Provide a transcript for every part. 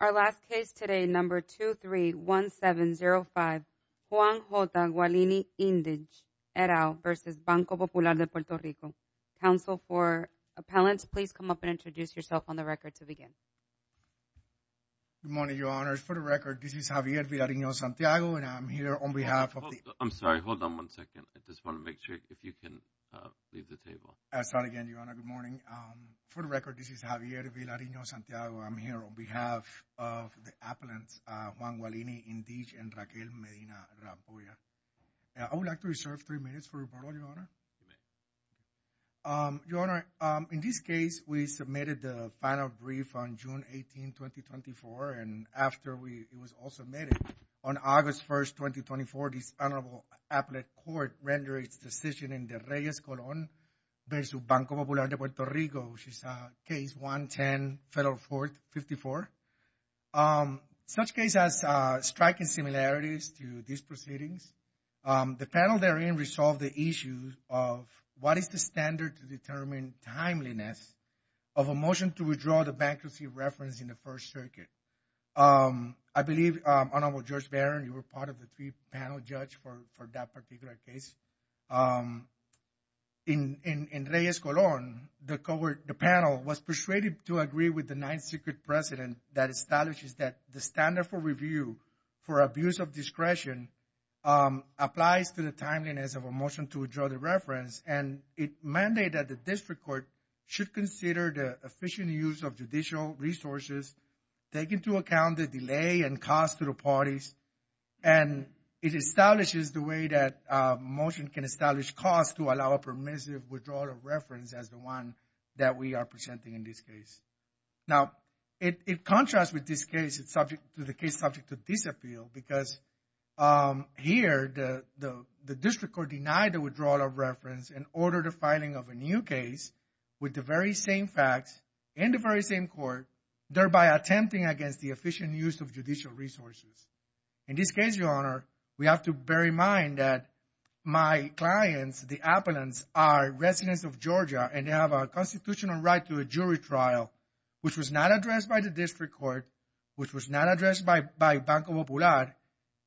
Our last case today, number 231705 Juan J. Guallini-Indij et al versus Banco Popular de Puerto Rico. Counsel for appellants, please come up and introduce yourself on the record to begin. Good morning, Your Honor. For the record, this is Javier Villarino-Santiago, and I'm here on behalf of the- I'm sorry. Hold on one second. I just want to make sure if you can leave the table. I'll start again, Your Honor. Good morning. For the record, this is Javier Villarino-Santiago. I'm here on behalf of the appellants, Juan Guallini-Indij and Raquel Medina-Rampolla. I would like to reserve three minutes for report, Your Honor. In this case, we submitted the final brief on June 18, 2024, and after it was all submitted, on August 1, 2024, the Senate Appellate Court rendered its decision in the Reyes-Colon versus Banco Popular de Puerto Rico. She saw case 110, Federal Court 54. Such case has striking similarities to these proceedings. The panel therein resolved the issue of what is the standard to determine timeliness of a motion to withdraw the bankruptcy reference in the First Circuit. I believe, Honorable Judge Barron, you were part of the three-panel judge for that particular case. In Reyes-Colon, the panel was persuaded to agree with the Ninth Secret Precedent that establishes that the standard for review for abuse of discretion applies to the timeliness of a motion to withdraw the reference, and it mandated that the district court should consider the efficient use of judicial resources, take into account the delay and cost to the to allow a permissive withdrawal of reference as the one that we are presenting in this case. Now, it contrasts with this case, the case subject to disappeal, because here, the district court denied the withdrawal of reference and ordered the filing of a new case with the very same facts and the very same court, thereby attempting against the efficient use of judicial resources. In this case, Your Honor, we have to bear in mind that my clients, the appellants, are residents of Georgia, and they have a constitutional right to a jury trial, which was not addressed by the district court, which was not addressed by Banco Popular,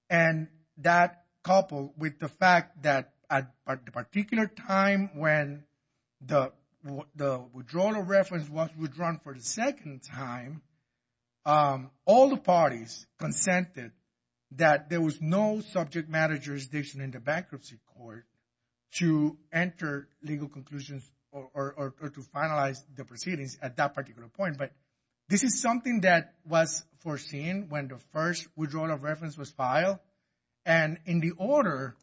and that coupled with the fact that at the particular time when the withdrawal of reference was withdrawn for the second time, all the parties consented that there was no subject matter jurisdiction in the bankruptcy court to enter legal conclusions or to finalize the proceedings at that particular point. But this is something that was foreseen when the first withdrawal of reference was filed, and in the order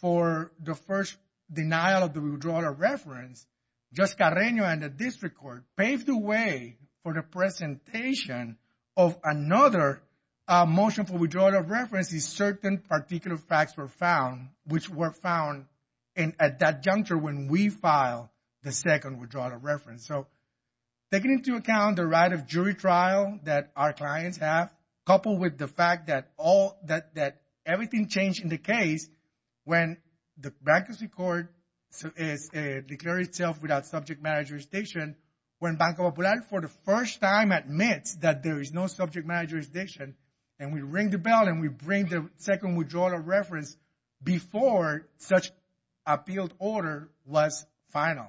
for the first denial of the withdrawal of reference, Judge Carreño and the district court paved the way for the presentation of another motion for withdrawal of reference is certain particular facts were found, which were found at that juncture when we filed the second withdrawal of reference. So taking into account the right of jury trial that our clients have, coupled with the fact that everything changed in the case when the bankruptcy court declared itself without subject matter jurisdiction, when Banco Popular for the first time admits that there is no subject matter jurisdiction, and we ring the bell and we bring the second withdrawal of reference before such appealed order was final.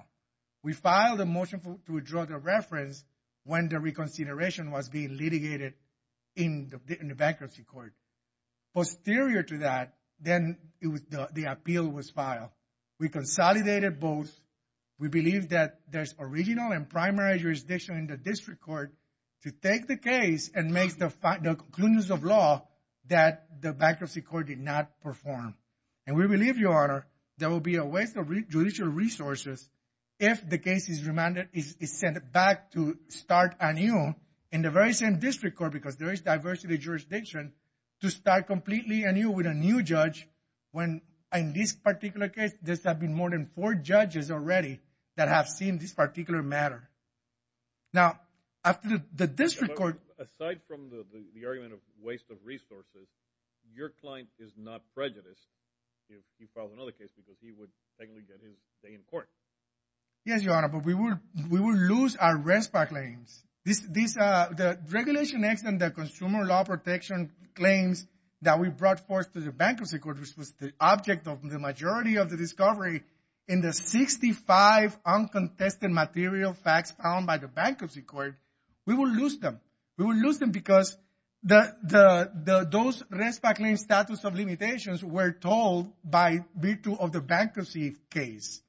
We filed a motion to withdraw the reference when the reconsideration was being litigated in the bankruptcy court. Posterior to that, then the appeal was filed. We consolidated both. We believe that there's original and primary jurisdiction in the district court to take the case and make the conclusions of law that the bankruptcy court did not perform. And we believe, Your Honor, there will be a waste of judicial resources if the case is remanded, is sent back to start anew in the very same district court, because there is diversity of jurisdiction, to start completely anew with a new judge when in this particular case, there's been more than four judges already that have seen this particular matter. Now, after the district court... Aside from the argument of waste of resources, your client is not prejudiced if he filed another case because he would technically get his day in court. Yes, Your Honor, but we will lose our RESPA claims. The regulation X and the consumer law protection claims that we brought forth to the bankruptcy court, which was the object of the majority of the discovery in the 65 uncontested material facts found by the bankruptcy court, we will lose them. We will lose them because those RESPA claims status of limitations were told by virtue of the bankruptcy case.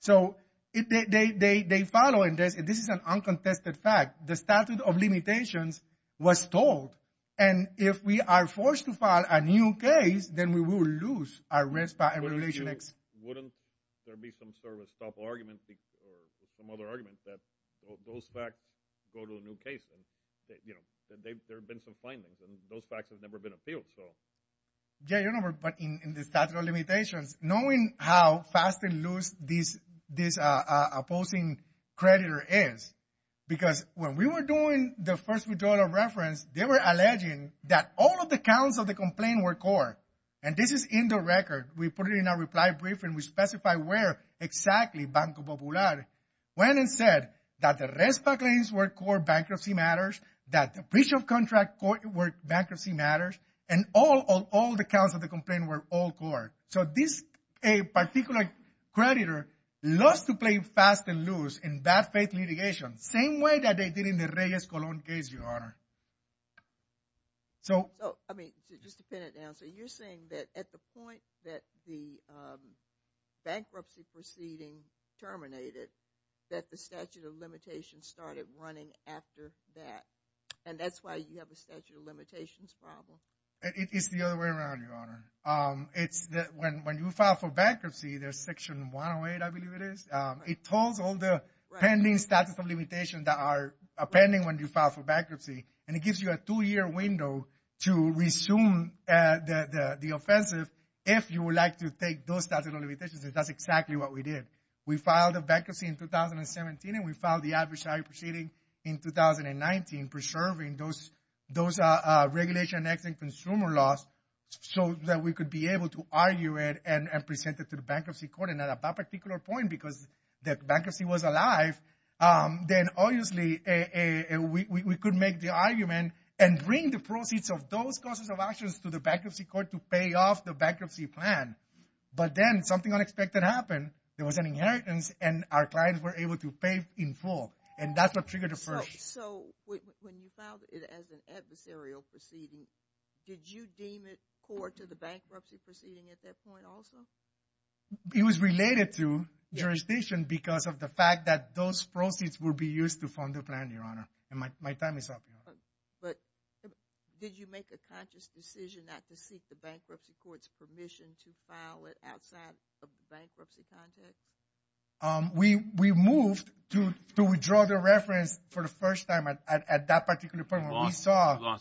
So they follow, and this is an uncontested fact, the statute of limitations was told. And if we are forced to file a new case, then we will lose our RESPA and regulation X. Wouldn't there be some sort of stop argument or some other argument that those facts go to a new case? You know, there have been some findings and those facts have never been appealed, so... Yeah, Your Honor, but in the statute of limitations, knowing how fast they lose this opposing creditor is, because when we were doing the first withdrawal of reference, they were alleging that all of the counts of the complaint were core. And this is in the record. We put it in our reply brief and we specify where exactly Banco Popular went and said that the RESPA claims were core bankruptcy matters, that the breach of contract were bankruptcy matters, and all the counts of the complaint were all core. So this particular creditor loves to play fast and loose in bad faith litigation, same way that they did in the Reyes-Colón case, Your Honor. So... So, I mean, just to pin it down, so you're saying that at the point that the bankruptcy proceeding terminated, that the statute of limitations started running after that. And that's why you have a statute of limitations problem? It is the other way around, Your Honor. It's that when you file for bankruptcy, there's section 108, I believe it is. It tells all the pending statute of limitations that are pending when you file for bankruptcy. And it gives you a two-year window to resume the offensive if you would like to take those statute of limitations. And that's exactly what we did. We filed a bankruptcy in 2017 and we filed the adversary proceeding in 2019, preserving those regulation-exiting consumer laws. So that we could be able to argue it and present it to the bankruptcy court. And at that particular point, because the bankruptcy was alive, then obviously we could make the argument and bring the proceeds of those causes of actions to the bankruptcy court to pay off the bankruptcy plan. But then something unexpected happened. There was an inheritance and our clients were able to pay in full. And that's what triggered the first... So when you filed it as an adversarial proceeding, did you deem it core to the bankruptcy proceeding at that point also? It was related to jurisdiction because of the fact that those proceeds would be used to fund the plan, Your Honor. My time is up, Your Honor. But did you make a conscious decision not to seek the bankruptcy court's permission to file it outside of the bankruptcy context? We moved to withdraw the reference for the first time at that particular point. We lost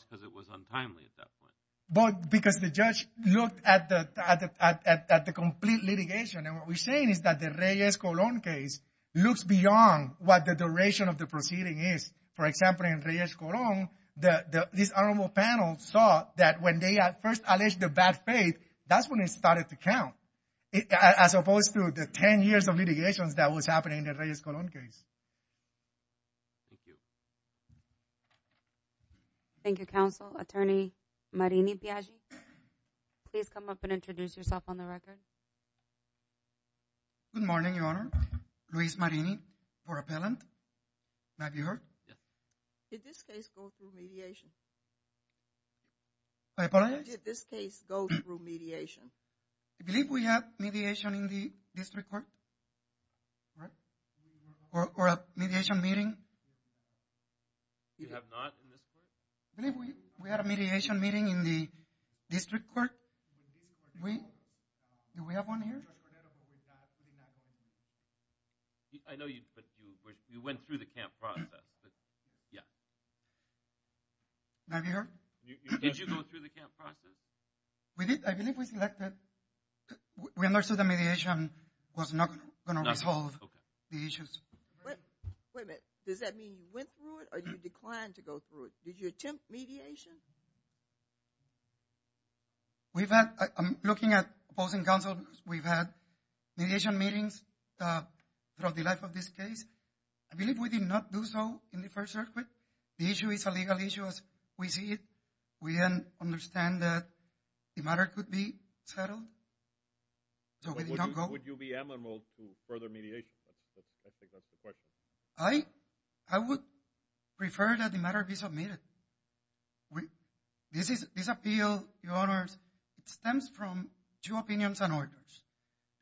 because it was untimely at that point. But because the judge looked at the complete litigation. And what we're saying is that the Reyes-Colón case looks beyond what the duration of the proceeding is. For example, in Reyes-Colón, this honorable panel saw that when they at first alleged the bad faith, that's when it started to count. As opposed to the 10 years of litigations that was happening in the Reyes-Colón case. Thank you. Thank you, counsel. Attorney Marini-Piaggi, please come up and introduce yourself on the record. Good morning, Your Honor. Luis Marini for appellant. May I be heard? Did this case go through mediation? Pardon? Did this case go through mediation? Do you believe we have mediation in the district court? Right? Or a mediation meeting? You have not in this court? Do you believe we had a mediation meeting in the district court? Do we have one here? I know you, but you went through the camp process. Yeah. May I be heard? Did you go through the camp process? We did. I believe we selected. We understood the mediation was not going to resolve the issues. Wait a minute. Does that mean you went through it or you declined to go through it? Did you attempt mediation? We've had, I'm looking at opposing counsel. We've had mediation meetings throughout the life of this case. I believe we did not do so in the first circuit. The issue is a legal issue as we see it. We understand that the matter could be settled. Would you be amiable to further mediation? I think that's the question. I would prefer that the matter be submitted. This appeal, Your Honors, stems from two opinions and orders.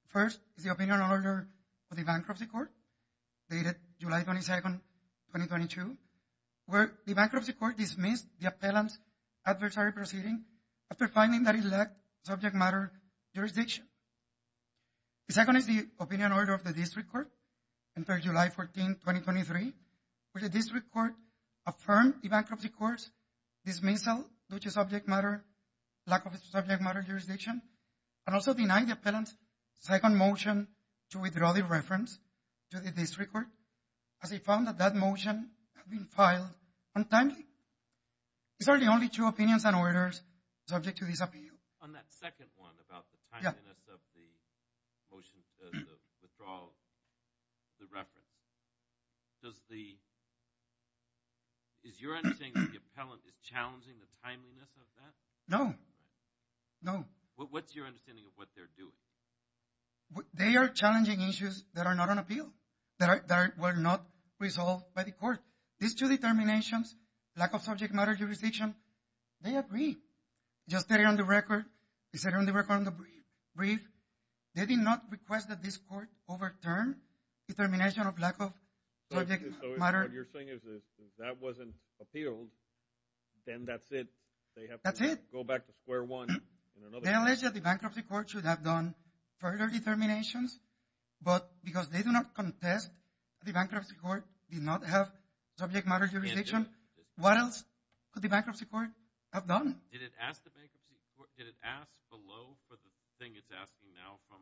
First is the opinion order for the bankruptcy court dated July 22nd, 2022, where the bankruptcy court dismissed the appellant's adversary proceeding after finding that it lacked subject matter jurisdiction. The second is the opinion order of the district court until July 14th, 2023, where the district court affirmed the bankruptcy court's dismissal, which is subject matter, lack of subject matter jurisdiction, and also denied the appellant's second motion to withdraw the reference to the district court as he found that that motion had been filed untimely. These are the only two opinions and orders subject to this appeal. On that second one about the timeliness of the withdrawal of the reference, is your understanding that the appellant is challenging the timeliness of that? No. No. What's your understanding of what they're doing? They are challenging issues that are not on appeal, that were not resolved by the court. These two determinations, lack of subject matter jurisdiction, they agree. Just on the record, they did not request that this court overturn the termination of lack of subject matter. So what you're saying is that if that wasn't appealed, then that's it? That's it. Go back to square one. Unless the bankruptcy court should have done further determinations, but because they do not contest the bankruptcy court did not have subject matter jurisdiction, what else could the bankruptcy court have done? Did it ask below for the thing it's asking now from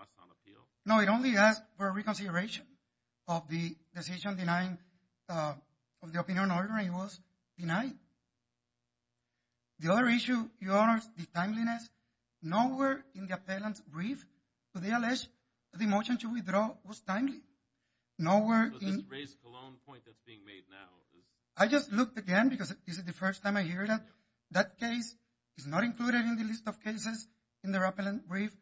us on appeal? No, it only asked for reconsideration of the decision denying of the opinion order, and it was denied. The other issue, Your Honor, is the timeliness. Nowhere in the appellant's brief to the L.S., the motion to withdraw was timely. Nowhere in... But this raised a lone point that's being made now. I just looked again because this is the first time I hear that. That case is not included in the list of cases in their appellant brief.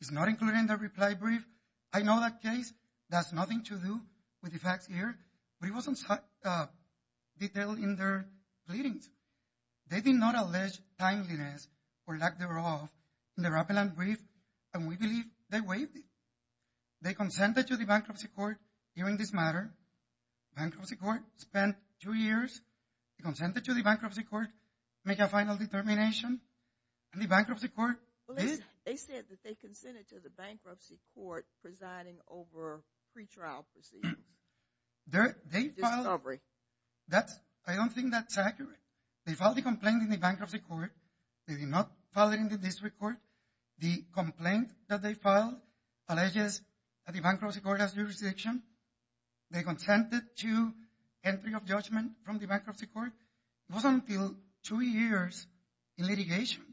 It's not included in their reply brief. I know that case. That's nothing to do with the facts here. But it wasn't detailed in their pleadings. They did not allege timeliness or lack thereof in their appellant brief, and we believe they waived it. They consented to the bankruptcy court hearing this matter. Bankruptcy court spent two years. They consented to the bankruptcy court make a final determination, and the bankruptcy court did. They said that they consented to the bankruptcy court presiding over pretrial proceedings. They filed... Discovery. I don't think that's accurate. They filed the complaint in the bankruptcy court. They did not file it in the district court. The complaint that they filed alleges that the bankruptcy court has jurisdiction. They consented to entry of judgment from the bankruptcy court. It wasn't until two years in litigation.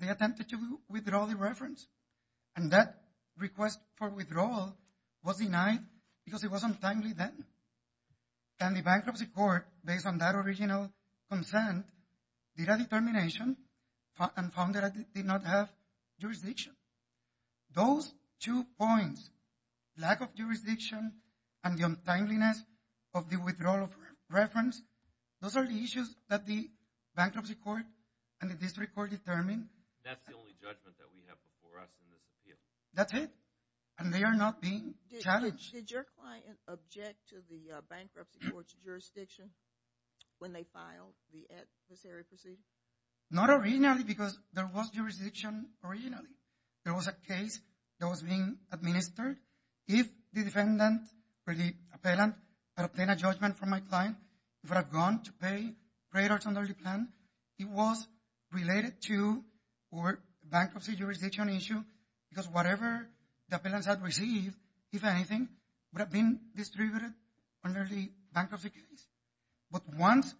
They attempted to withdraw the reference, and that request for withdrawal was denied because it wasn't timely then. And the bankruptcy court, based on that original consent, did a determination and found that it did not have jurisdiction. Those two points, lack of jurisdiction and the untimeliness of the withdrawal of reference, those are the issues that the bankruptcy court and the district court determined. That's the only judgment that we have before us in this appeal. That's it. And they are not being challenged. Did your client object to the bankruptcy court's jurisdiction when they filed the adversary proceedings? Not originally because there was jurisdiction originally. There was a case that was being administered. If the defendant or the appellant had obtained a judgment from my client that I've gone to pay credit under the plan, it was related to bankruptcy jurisdiction issue because whatever the appellant had received, if anything, would have been distributed under the bankruptcy case. But once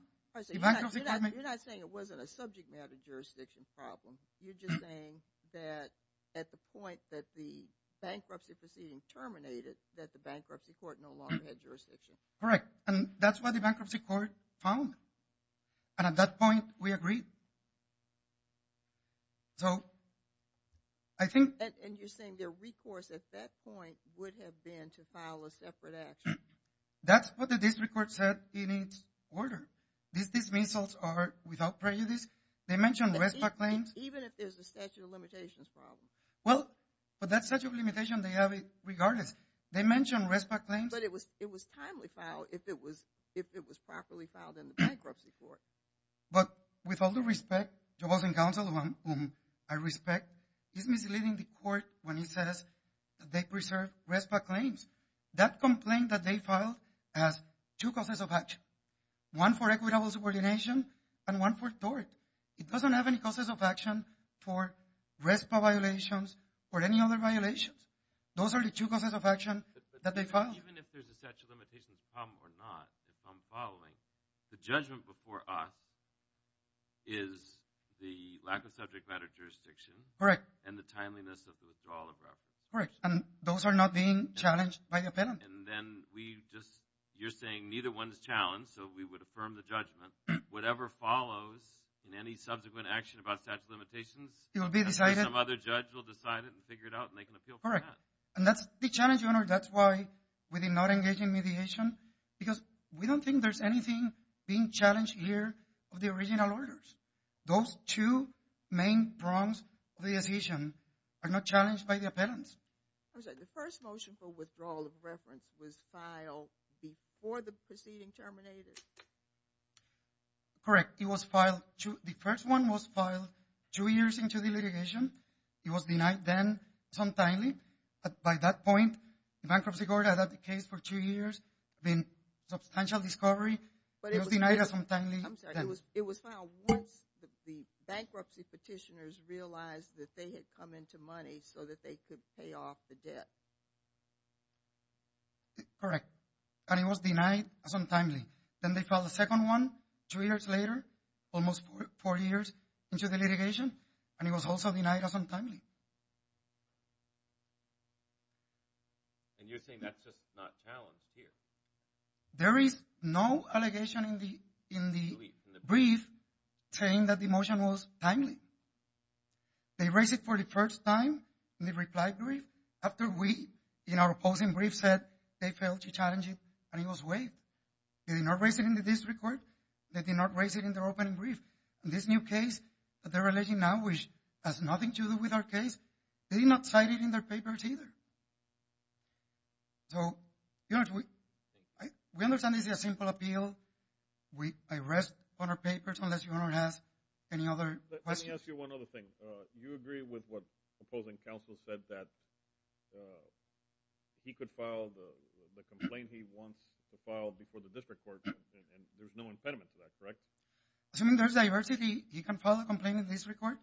the bankruptcy court made— You're not saying it wasn't a subject matter jurisdiction problem. You're just saying that at the point that the bankruptcy proceeding terminated that the bankruptcy court no longer had jurisdiction. Correct. And that's what the bankruptcy court found. And at that point, we agreed. So I think— And you're saying their recourse at that point would have been to file a separate action. That's what the district court said in its order. These dismissals are without prejudice. They mentioned RESPA claims. Even if there's a statute of limitations problem. Well, for that statute of limitations, they have it regardless. They mentioned RESPA claims. But it was timely filed if it was properly filed in the bankruptcy court. But with all due respect, the housing council, whom I respect, is misleading the court when he says that they preserve RESPA claims. That complaint that they filed has two causes of action, one for equitable subordination and one for tort. It doesn't have any causes of action for RESPA violations or any other violations. Those are the two causes of action that they filed. Even if there's a statute of limitations problem or not, if I'm following, the judgment before us is the lack of subject matter jurisdiction. Correct. And the timeliness of the withdrawal of reference. Correct. And those are not being challenged by the appellant. And then we just—you're saying neither one is challenged, so we would affirm the judgment. Whatever follows in any subsequent action about statute of limitations— It will be decided. Some other judge will decide it and figure it out, and they can appeal for that. Correct. And that's the challenge, Your Honor. That's why we did not engage in mediation, because we don't think there's anything being challenged here of the original orders. Those two main prongs of the decision are not challenged by the appellants. The first motion for withdrawal of reference was filed before the proceeding terminated. Correct. It was filed—the first one was filed two years into the litigation. It was denied then, untimely. But by that point, the bankruptcy court had had the case for two years, been substantial discovery. But it was— It was denied untimely. I'm sorry. It was filed once the bankruptcy petitioners realized that they had come into money so that they could pay off the debt. Correct. And it was denied untimely. Then they filed a second one two years later, almost four years into the litigation, and it was also denied untimely. And you're saying that's just not challenged here. There is no allegation in the brief saying that the motion was timely. They raised it for the first time in the reply brief after we, in our opposing brief, said they failed to challenge it, and it was waived. They did not raise it in the district court. They did not raise it in their opening brief. This new case that they're relating now, which has nothing to do with our case, they did not cite it in their papers either. So, you know, we understand this is a simple appeal. I rest on our papers unless you want to ask any other questions. Let me ask you one other thing. You agree with what opposing counsel said, that he could file the complaint he wants to file before the district court, and there's no impediment to that, correct? Assuming there's diversity, he can file a complaint in the district court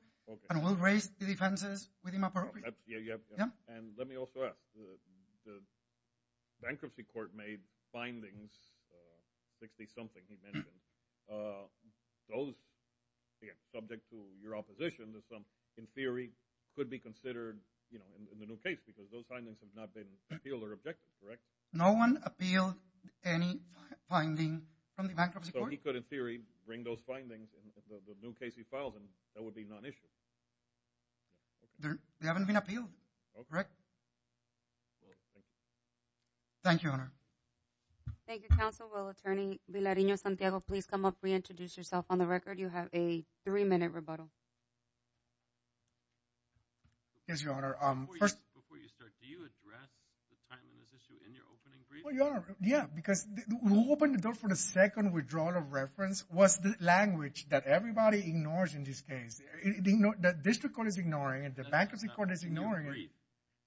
and we'll raise the defenses with him appropriately. And let me also ask. The bankruptcy court made findings, 60-something he mentioned. Those, again, subject to your opposition, in theory, could be considered in the new case because those findings have not been appealed or objected, correct? No one appealed any finding from the bankruptcy court. He could, in theory, bring those findings in the new case he files in. That would be non-issue. They haven't been appealed, correct? Thank you, Your Honor. Thank you, counsel. Well, Attorney Villarino-Santiago, please come up, reintroduce yourself on the record. You have a three-minute rebuttal. Yes, Your Honor. Before you start, do you address the timing of this issue in your opening brief? Well, Your Honor, yeah. Because who opened the door for the second withdrawal of reference was the language that everybody ignores in this case. The district court is ignoring it. The bankruptcy court is ignoring it.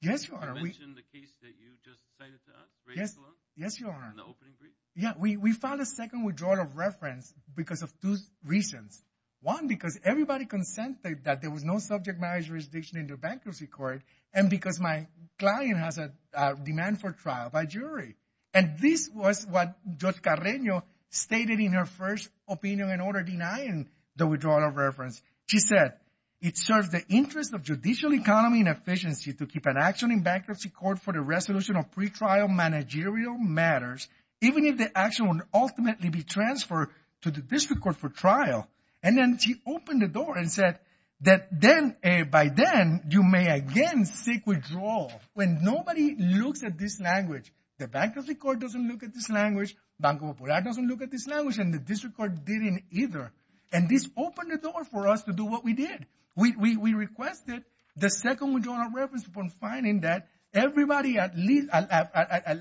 Yes, Your Honor. You mentioned the case that you just cited to us? Raise the law? Yes, Your Honor. In the opening brief? Yeah. We filed a second withdrawal of reference because of two reasons. One, because everybody consented that there was no subject marriage jurisdiction in the bankruptcy court. And because my client has a demand for trial by jury. And this was what Judge Carreño stated in her first opinion in order denying the withdrawal of reference. She said, It serves the interest of judicial economy and efficiency to keep an action in bankruptcy court for the resolution of pretrial managerial matters, even if the action would ultimately be transferred to the district court for trial. And then she opened the door and said that then, by then, you may again seek withdrawal. When nobody looks at this language, the bankruptcy court doesn't look at this language, Banco Popular doesn't look at this language, and the district court didn't either. And this opened the door for us to do what we did. We requested the second withdrawal of reference upon finding that everybody at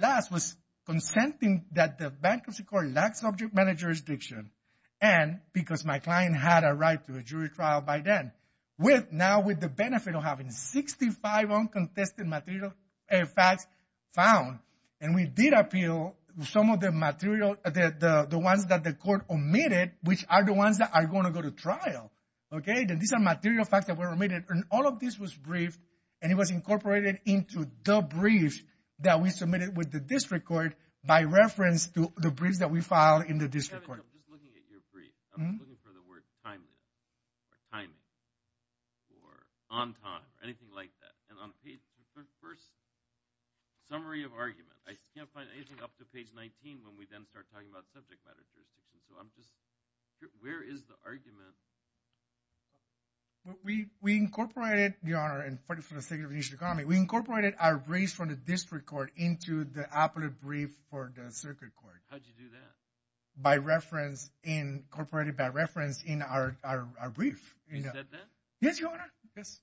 last was consenting that the bankruptcy court lacked subject marriage jurisdiction. And because my client had a right to a jury trial by then. With now with the benefit of having 65 uncontested material facts found. And we did appeal some of the material, the ones that the court omitted, which are the ones that are going to go to trial. Okay. And these are material facts that were omitted. And all of this was briefed. And it was incorporated into the brief that we submitted with the district court by reference to the briefs that we filed in the district court. I'm just looking at your brief. I'm looking for the word timeliness. Or timing. Or on time. Or anything like that. And on page, the first summary of argument. I can't find anything up to page 19 when we then start talking about subject matter jurisdiction. So I'm just, where is the argument? We incorporated, Your Honor, and for the sake of initial comment, we incorporated our briefs from the district court into the appellate brief for the circuit court. How'd you do that? By reference, incorporated by reference in our brief. You said that? Yes, Your Honor. Yes.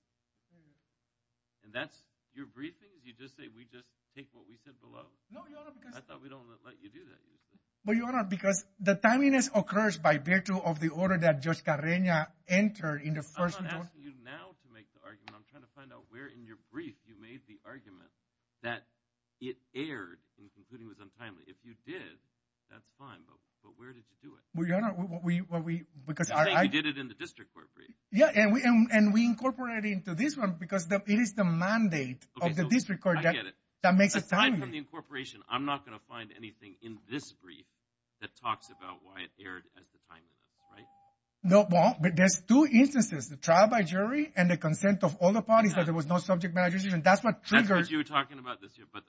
And that's your briefings? You just say, we just take what we said below? No, Your Honor, because. I thought we don't let you do that usually. Well, Your Honor, because the timeliness occurs by virtue of the order that Judge Carreña entered in the first. I'm not asking you now to make the argument. I'm trying to find out where in your brief you made the argument that it erred in concluding it was untimely. If you did, that's fine, but where did you do it? Well, Your Honor, we, because I. You did it in the district court brief. Yeah, and we incorporated it into this one because it is the mandate of the district court. I get it. That makes it timely. Aside from the incorporation, I'm not going to find anything in this brief that talks about why it erred as the timeliness, right? Well, there's two instances, the trial by jury and the consent of all the parties that there was no subject matter jurisdiction. That's what triggers. That's what you were talking about this year, but.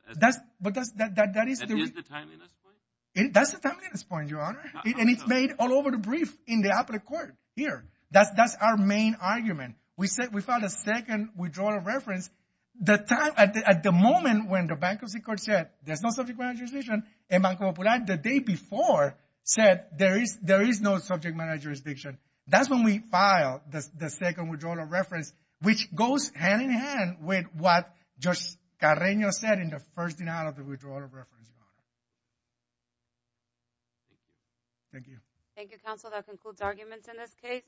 But that is. That is the timeliness point? That's the timeliness point, Your Honor. And it's made all over the brief in the appellate court here. That's our main argument. We filed a second withdrawal of reference. At the moment when the bankruptcy court said there's no subject matter jurisdiction, and Banco Popular the day before said there is no subject matter jurisdiction. That's when we filed the second withdrawal of reference, which goes hand in hand with what Judge Carreño said in the first denial of the withdrawal of reference, Your Honor. Thank you. Thank you, counsel. That concludes arguments in this case.